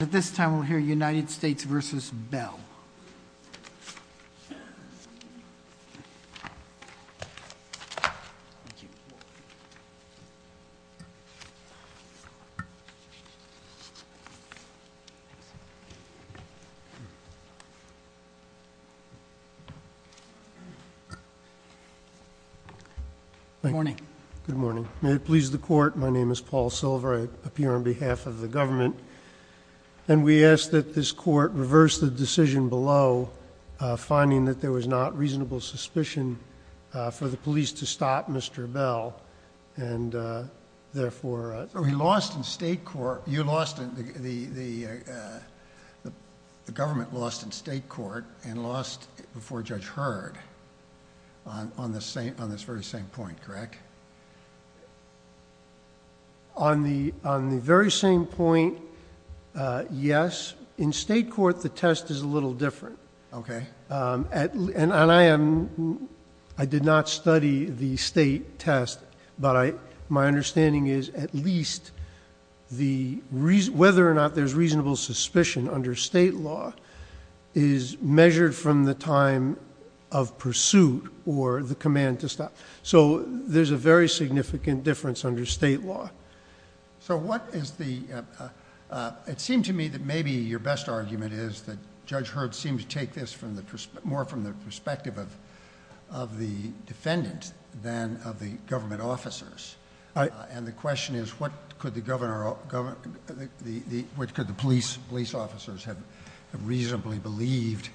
At this time we'll hear United States v. Bell. Good morning. May it please the court, my name is Paul Silver. I appear on behalf of the United States v. Bell. And we ask that this court reverse the decision below finding that there was not reasonable suspicion for the police to stop Mr. Bell and uh... therefore... We lost in state court, you lost in the government lost in state court and lost before Judge Hurd on this very same point, correct? On the very same point uh... yes in state court the test is a little different uh... and I am I did not study the state test but my understanding is at least the reason whether or not there's reasonable suspicion under state law is measured from the time of pursuit or the command to stop so there's a very significant difference under state law so what is the uh... uh... it seemed to me that maybe your best argument is that Judge Hurd seems to take this more from the perspective of of the defendant than of the government officers uh... and the question is what could the governor or government what could the police police officers have reasonably believed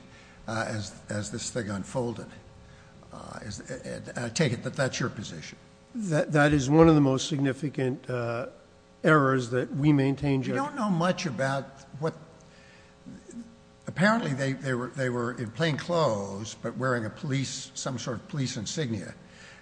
uh... as this thing unfolded uh... I take it that that's your position that that is one of the most significant uh... errors that we maintain Judge Hurd. You don't know much about apparently they they were they were in plain clothes but wearing a police some sort of police insignia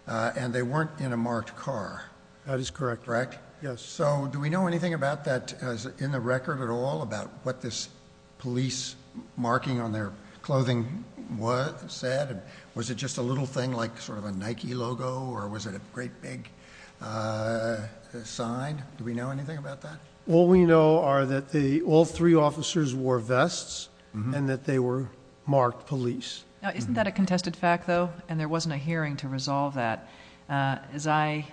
uh... and they weren't in a marked car that is correct correct yes so do we know anything about that as in the record at all about what this police marking on their clothing was said was it just a little thing like sort of a Nike logo or was it a great big uh... sign do we know anything about that all we know are that the all three officers wore vests and that they were marked police now isn't that a contested fact though and there wasn't a hearing to resolve that uh... as I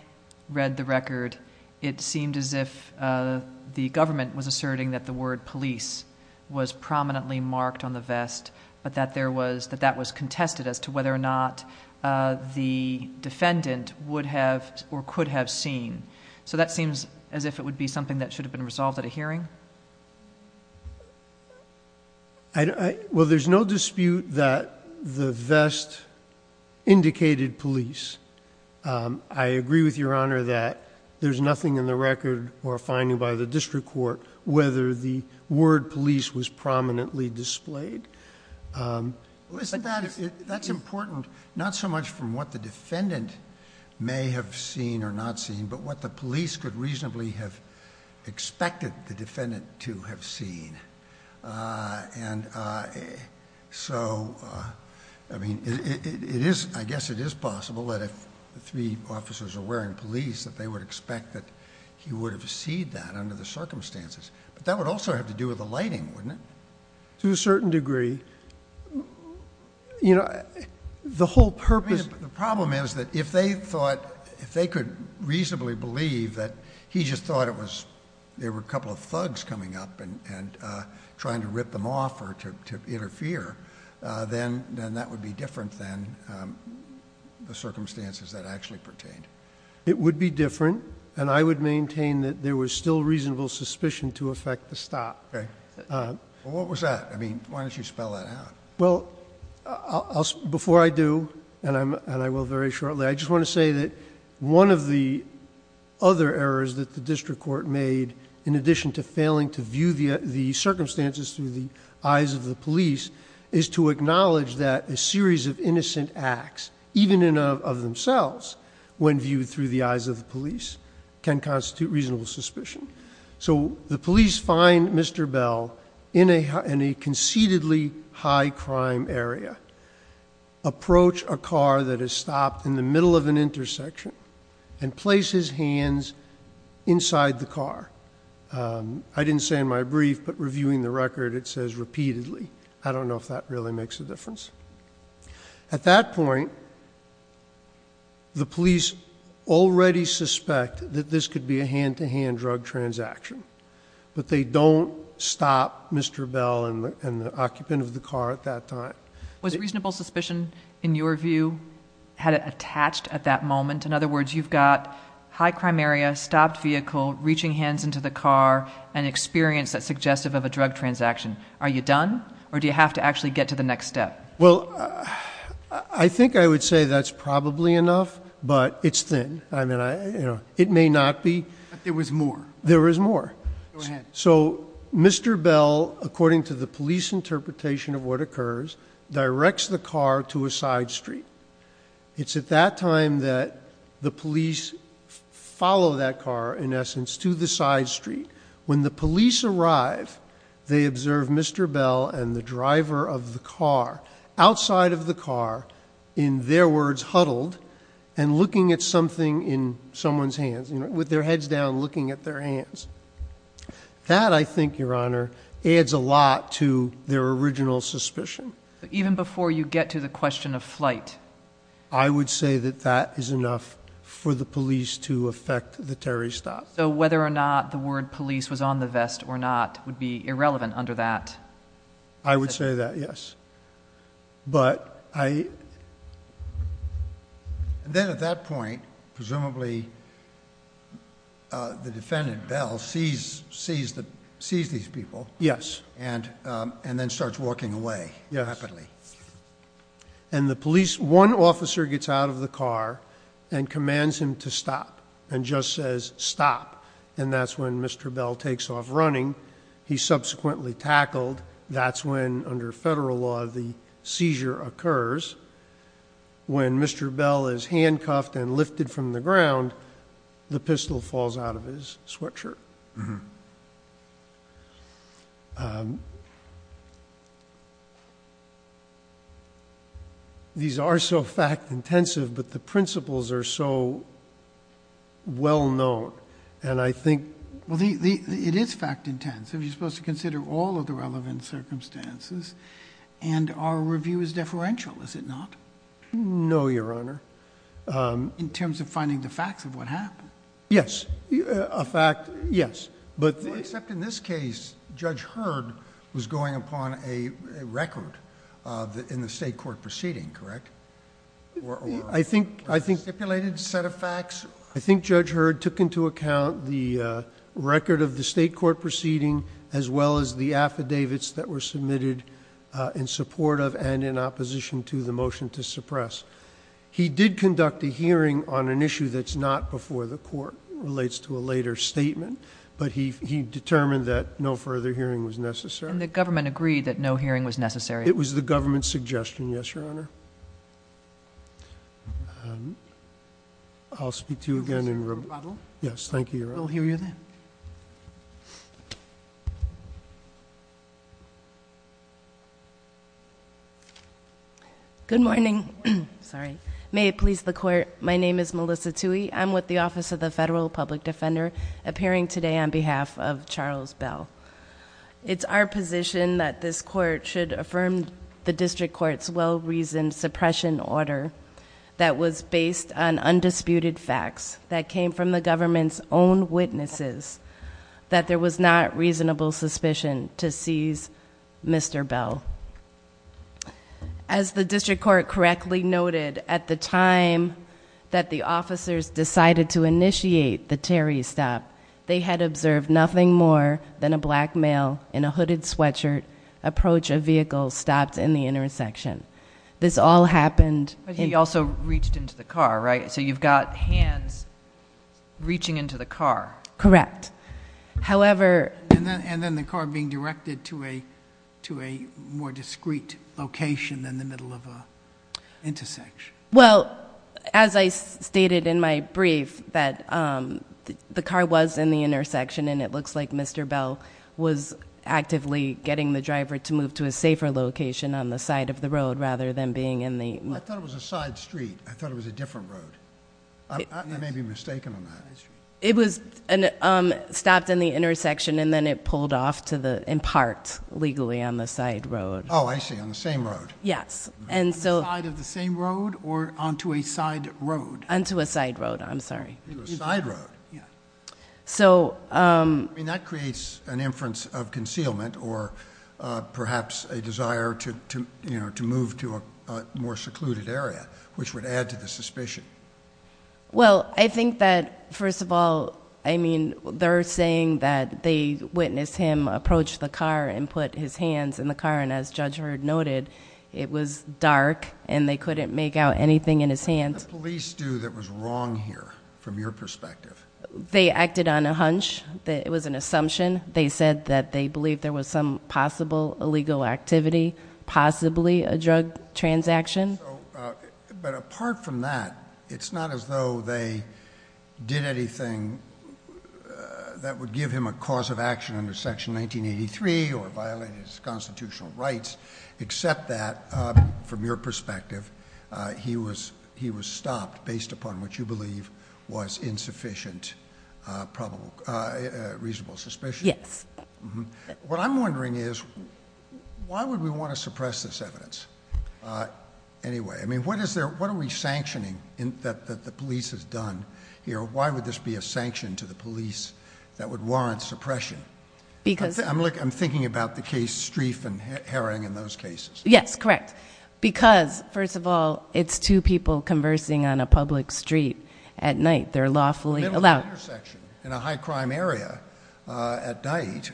read the record it seemed as if uh... the government was asserting that the word police was prominently marked on the vest but that there was that that was contested as to whether or not uh... the defendant would have or could have seen so that seems as if it would be something that should have been resolved at a hearing well there's no dispute that the vest indicated police uh... i agree with your honor that there's nothing in the record or finding by the district court whether the word police was prominently displayed uh... well isn't that that's important not so much from what the defendant may have seen or not seen but what the police could reasonably have expected the defendant to have seen uh... and uh... so I mean it is I guess it is possible that if the three officers are wearing police that they would expect that he would have seen that under the circumstances that would also have to do with the lighting to a certain degree you know the whole purpose the problem is that if they thought if they could reasonably believe that he just thought it was there were a couple of thugs coming up and and uh... trying to rip them off or to interfere uh... then then that would be different than the circumstances that actually pertained it would be different and I would maintain that there was still reasonable suspicion to affect the stop what was that I mean why don't you spell that out before I do and I will very shortly I just want to say that one of the other errors that the district court made in addition to failing to view the circumstances through the eyes of the police is to acknowledge that a series of innocent acts even in and of themselves when viewed through the eyes of the police can constitute reasonable suspicion so the police find Mr. Bell in a conceitedly high crime area approach a car that is stopped in the middle of an intersection and place his hands inside the car uh... I didn't say in my brief but reviewing the record it says repeatedly I don't know if that really makes a difference at that point the police already suspect that this could be a hand-to-hand drug transaction but they don't stop Mr. Bell and the occupant of the car at that time was reasonable suspicion in your view had it attached at that moment in other words you've got high crime area stopped vehicle reaching hands into the car and experience that suggestive of a drug transaction are you done or do you have to actually get to the next step well I think I would say that's probably enough but it's thin it may not be there was more there is more so Mr. Bell according to the police interpretation of what occurs directs the car to a side street it's at that time that the police follow that car in essence to the side street when the police arrive they observe Mr. Bell and the driver of the car outside of the car in their words huddled and looking at something in someone's hands with their heads down looking at their hands that I think your honor adds a lot to their original suspicion even before you get to the question of flight I would say that that is enough for the police to affect the Terry stop so whether or not the word police was on the vest or not would be irrelevant under that I would say that yes but I then at that point presumably uh... the defendant Bell sees sees these people and uh... and then starts walking away happily and the police one officer gets out of the car and commands him to stop and just says stop and that's when Mr. Bell takes off running he subsequently tackled that's when under federal law the seizure occurs when Mr. Bell is handcuffed and lifted from the ground the pistol falls out of his sweatshirt these are so fact intensive but the principles are so well known and I think well it is fact intensive you're supposed to consider all of the relevant circumstances and our review is deferential is it not no your honor uh... in terms of finding the facts of what happened yes a fact yes except in this case judge Hurd was going upon a record uh... in the state court proceeding correct I think I think stipulated set of facts I think judge Hurd took into account the uh... record of the state court proceeding as well as the affidavits that were submitted uh... in support of and in opposition to the motion to suppress he did conduct a hearing on an issue that's not before the court relates to a later statement but he he determined that no further hearing was necessary and the government honor uh... I'll speak to you again in rebuttal yes thank you your honor good morning may it please the court my name is Melissa Tui I'm with the office of the federal public defender appearing today on behalf of Charles Bell it's our position that this court should affirm the district court's well-reasoned suppression order that was based on undisputed facts that came from the government's own witnesses that there was not reasonable suspicion to seize Mr. Bell as the district court correctly noted at the time that the officers decided to initiate the Terry stop they had observed nothing more than a black male in a hooded sweatshirt approach a vehicle stopped in the intersection this all happened he also reached into the car right so you've got hands reaching into the car correct however and then the car being directed to a to a more discreet location than the middle of a intersection well as I stated in my brief that um... the car was in the intersection and it looks like Mr. Bell was actively getting the driver to move to a safer location on the side of the road rather than being in the I thought it was a side street I thought it was a different road I may be mistaken on that it was stopped in the intersection and then it pulled off to the in part legally on the side road oh I see on the same road yes and so on the side of the same road or onto a side road onto a side road I'm sorry a side road yeah so um that creates an inference of concealment or perhaps a desire to to you know to move to a more secluded area which would add to the suspicion well I think that first of all I mean they're saying that they witnessed him approach the car and put his hands in the car and as Judge Hurd noted it was dark and they couldn't make out anything in his hands What did the police do that was wrong here from your perspective? they acted on a hunch that it was an assumption they said that they believe there was some possible illegal activity possibly a drug transaction but apart from that it's not as though they did anything that would give him a cause of action under section 1983 or violate his constitutional rights except that from your perspective he was stopped based upon what you believe was insufficient probable reasonable suspicion yes what I'm wondering is why would we want to suppress this evidence anyway I mean what is there what are we sanctioning in that that the police has done here why would this be a sanction to the police that would warrant suppression because I'm like I'm thinking about the case Streif and Herring in those cases yes correct because first of all it's two people conversing on a public street at night they're lawfully allowed in a high-crime area at night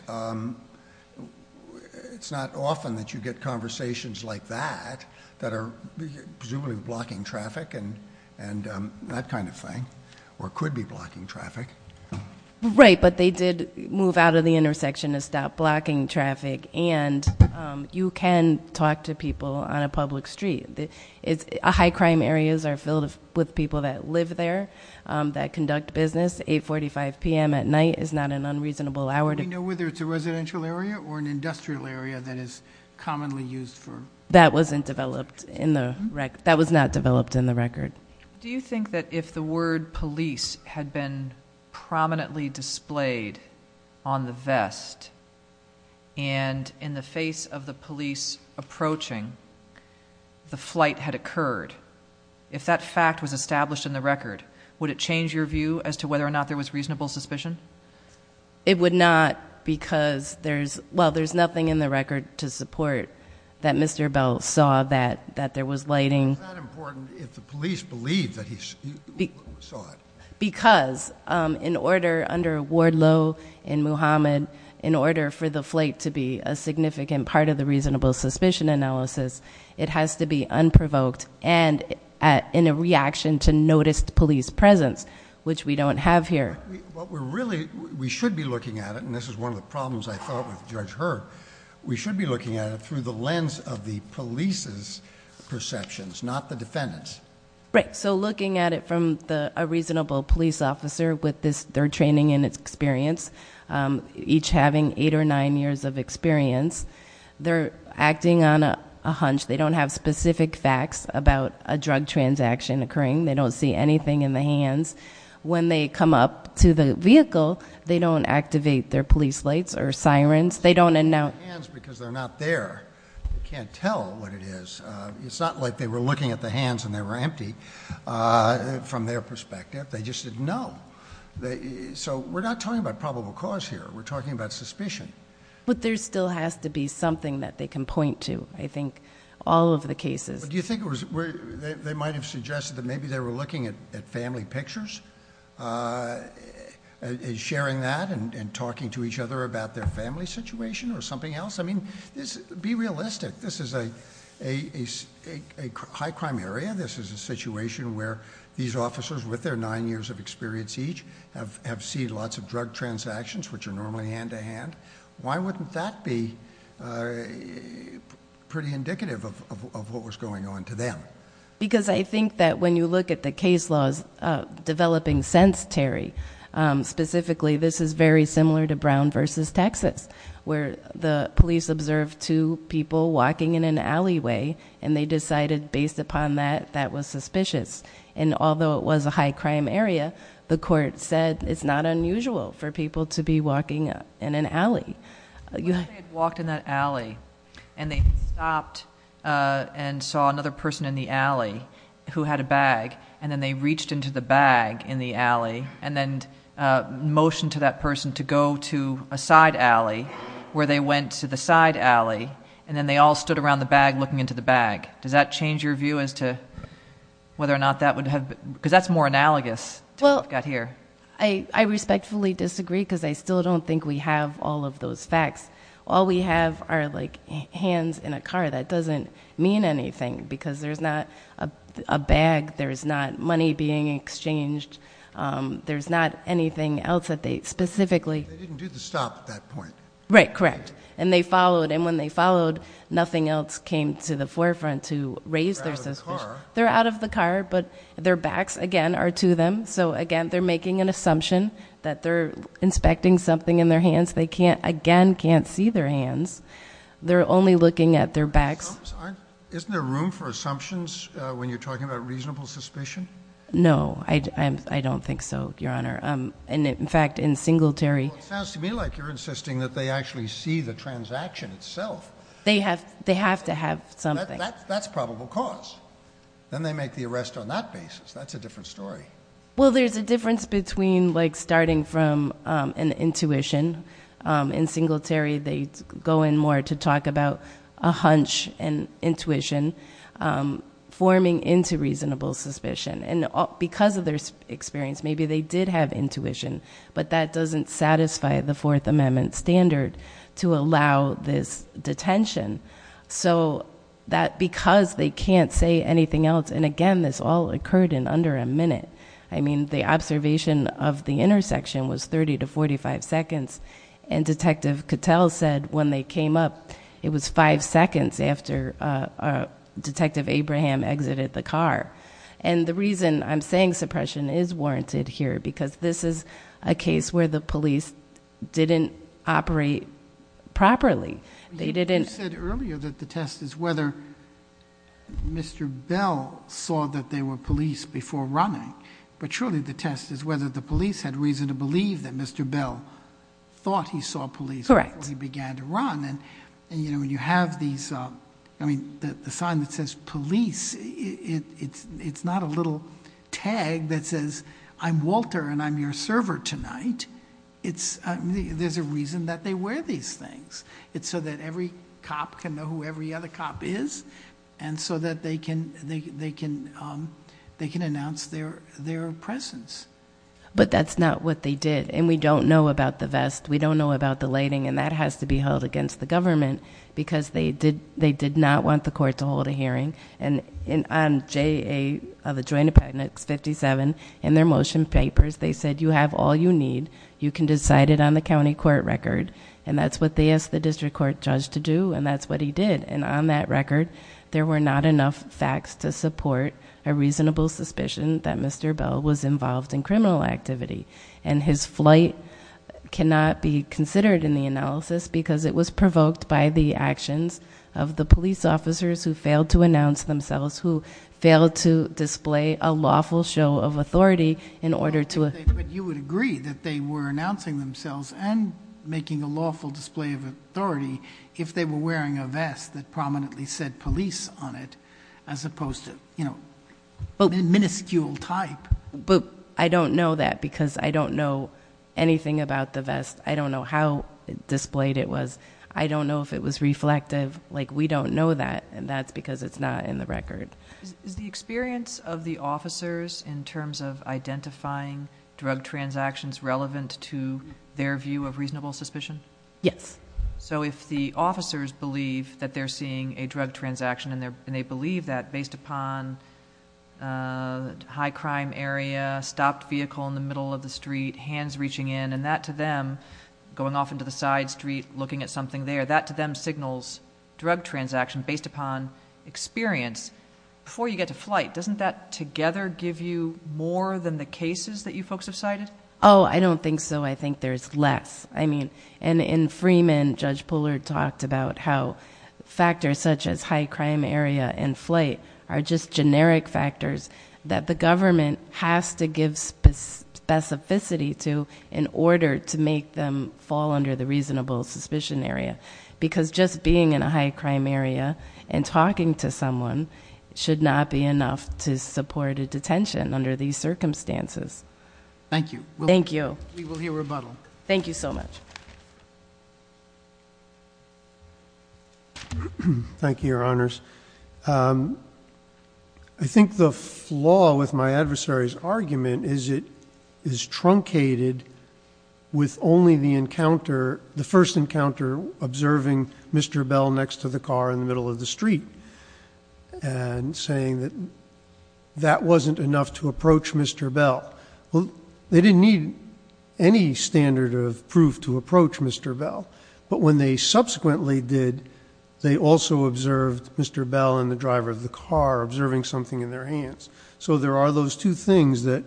it's not often that you get conversations like that that are presumably blocking traffic and and that kind of thing or could be blocking traffic right but they did move out of the intersection to stop blocking traffic and you can talk to people on a public street it's a high-crime areas are filled with people that live there that conduct business 845 p.m. at night is not an unreasonable hour to know whether it's a residential area or an industrial area that is commonly used for that wasn't developed in the wreck that was not developed in the record do you think that if the word police had been prominently displayed on the vest and in the face of the police approaching the flight had occurred if that fact was established in the record would it change your view as to whether or not there was reasonable suspicion it would not because there's well there's nothing in the record to support that Mr. Bell saw that that there was lighting important if the police believe that he's be because I'm in order under Wardlow in Muhammad in order for the flight to be a significant part of the reasonable suspicion analysis it has to be unprovoked and at in a reaction to noticed police presence which we don't have here what we're really we should be looking at and this is one of the problems I thought judge her we should be looking at through the lens the police's perceptions not the defendants right so looking at it from the a reasonable police officer with this their training in its experience each having eight or nine years of experience they're acting on a a hunch they don't have specific facts about a drug transaction occurring they don't see anything in the hands when they come up to the vehicle they don't activate their police lights or sirens they don't and now because they're not there can't tell is it's not like they were looking at the hands and they were empty I from their perspective they just know they so we're not talking about probable cause here we're talking about suspicion but there still has to be something that they can point to I think all of the cases do you think it was where they might have suggested that maybe they were looking at family pictures I a sharing that and and talking to each other about their family situation or something else I mean this be realistic this is a a a a high crime area this is a situation where these officers with their nine years of experience each have have seen lots of drug transactions which are normally hand-to-hand why wouldn't that be a pretty indicative of of what was going on to them because I think that when you look at the case laws a developing sense Terry I'm specifically this is very similar to Brown versus Texas where the police observed two people walking in an alleyway and they decided based upon that that was suspicious and although it was a high crime area the court said it's not unusual for people to be walking up in an alley you walked in that alley and they opt and saw another person in the alley who had a bag and then they reached into the bag in the alley and then a motion to that person to go to a side alley where they went to the side alley and then they all stood around the bag looking into the bag does that change your view as to whether or not that would have because that's more analogous to what we've got here. I respectfully disagree because I still don't think we have all of those facts all we have are like hands in a car that doesn't mean anything because there's not a bag there's not money being exchanged there's not anything else that they specifically. They didn't do the stop at that point. Right correct and they followed and when they followed nothing else came to the forefront to raise their suspicion. They're out of the car but their backs again are to them so again they're making an assumption that they're inspecting something in their hands they can't again can't see their hands they're only looking at their backs. Isn't there room for assumptions when you're talking about reasonable suspicion? No I don't think so your honor and in fact in Singletary It sounds to me like you're insisting that they actually see the transaction itself. They have they have to have something. That's probable cause then they make the arrest on that basis that's a different story. Well there's a difference between like starting from an intuition. In Singletary they go in more to talk about a hunch and intuition forming into reasonable suspicion and because of their experience maybe they did have intuition but that doesn't satisfy the fourth amendment standard to allow this detention so that because they can't say anything else and again this all occurred in under a minute I mean the observation of the intersection was 30 to 45 seconds and Detective Cattell said when they came up it was five seconds after Detective Abraham exited the car and the reason I'm saying suppression is warranted here because this is a case where the police didn't operate properly. You said earlier that the test is whether Mr. Bell saw that they were police before running but surely the test is whether the police had reason to believe that Mr. Bell thought he saw police before he began to run and you know you have these, I mean the sign that says police it's not a little tag that says I'm Walter and I'm your server tonight. There's a reason that they wear these things. It's so that every cop can know who every other cop is and so that they can announce their presence. But that's not what they did and we don't know about the vest, we don't know about the lighting and that has to be held against the government because they did not want the court to hold a hearing and I'm JA of the Joint Appendix 57 and their motion papers they said you have all you need you can decide it on the county court record and that's what they asked the district court judge to do and that's what he did and on that record there were not enough facts to support a reasonable suspicion that Mr. Bell was involved in criminal activity and his flight cannot be considered in the analysis because it was provoked by the actions of the police officers who failed to announce themselves who failed to display a lawful show of authority in order to... But you would agree that they were announcing themselves and making a lawful display of authority if they were wearing a vest that prominently said police on it as opposed to, you know, a miniscule type. But I don't know that because I don't know anything about the vest I don't know how displayed it was I don't know if it was reflective like we don't know that and that's because it's not in the record. Is the experience of the officers in terms of identifying drug transactions relevant to their view of reasonable suspicion? Yes. So if the officers believe that they're seeing a drug transaction and they believe that based upon a high crime area, stopped vehicle in the middle of the street, hands reaching in and that to them going off into the side street looking at something there that to them signals drug transaction based upon experience before you get to flight doesn't that together give you more than the cases that you folks have cited? Oh I don't think so I think there's less I mean and in Freeman Judge Puller talked about how factors such as high crime area and flight are just generic factors that the government has to give specificity to in order to make them fall under the reasonable suspicion area because just being in a high crime area and talking to someone should not be enough to support a detention under these circumstances. Thank you. Thank you. We will hear rebuttal. Thank you so much. Thank you Your Honors. I think the flaw with my adversary's argument is it is truncated with only the encounter, the first encounter observing Mr. Bell next to the car in the middle of the street and saying that that wasn't enough to approach Mr. Bell. Well they didn't need any standard of proof to approach Mr. Bell but when they subsequently did they also observed Mr. Bell and the driver of the car observing something in their hands. So there are those two things that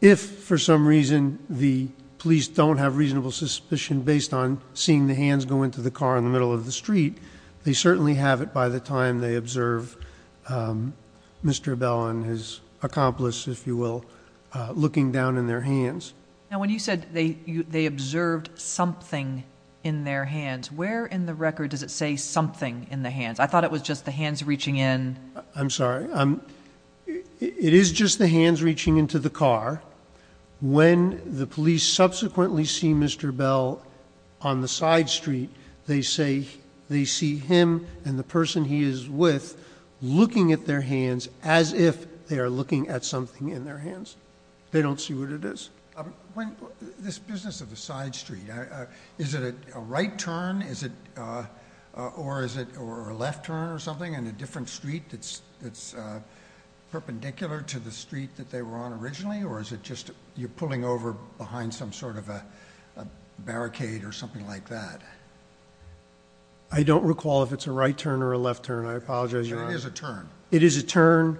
if for some reason the police don't have reasonable suspicion based on seeing the hands go into the car in the middle of the street they certainly have it by the time they observe Mr. Bell and his accomplice if you will looking down in their hands. Now when you said they observed something in their hands where in the record does it say something in the hands? I thought it was just the hands reaching in. I'm sorry. It is just the hands reaching into the car. When the police subsequently see Mr. Bell on the side street they say they see him and the person he is with looking at their hands as if they are looking at something in their hands. They don't see what it is. This business of the side street, is it a right turn or a left turn or something in a different street that's perpendicular to the street that they were on originally or is it just you're pulling over behind some sort of a barricade or something like that? I don't recall if it's a right turn or a left turn. I apologize. It is a turn. It is a turn.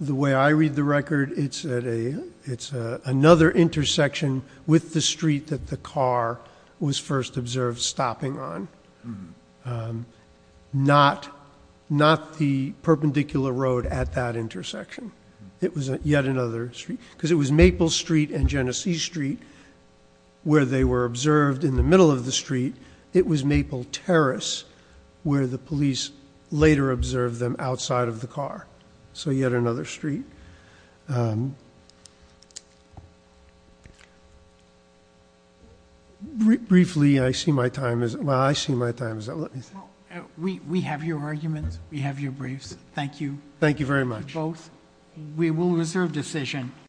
The way I read the record it's another intersection with the street that the car was first observed stopping on. Not the perpendicular road at that intersection. It was yet another street. Because it was Maple Street and Genesee Street where they were observed in the middle of the street. It was Maple Terrace where the police later observed them outside of the car. So yet another street. Briefly I see my time. We have your arguments. We have your briefs. Thank you. Thank you very much. We will reserve decision.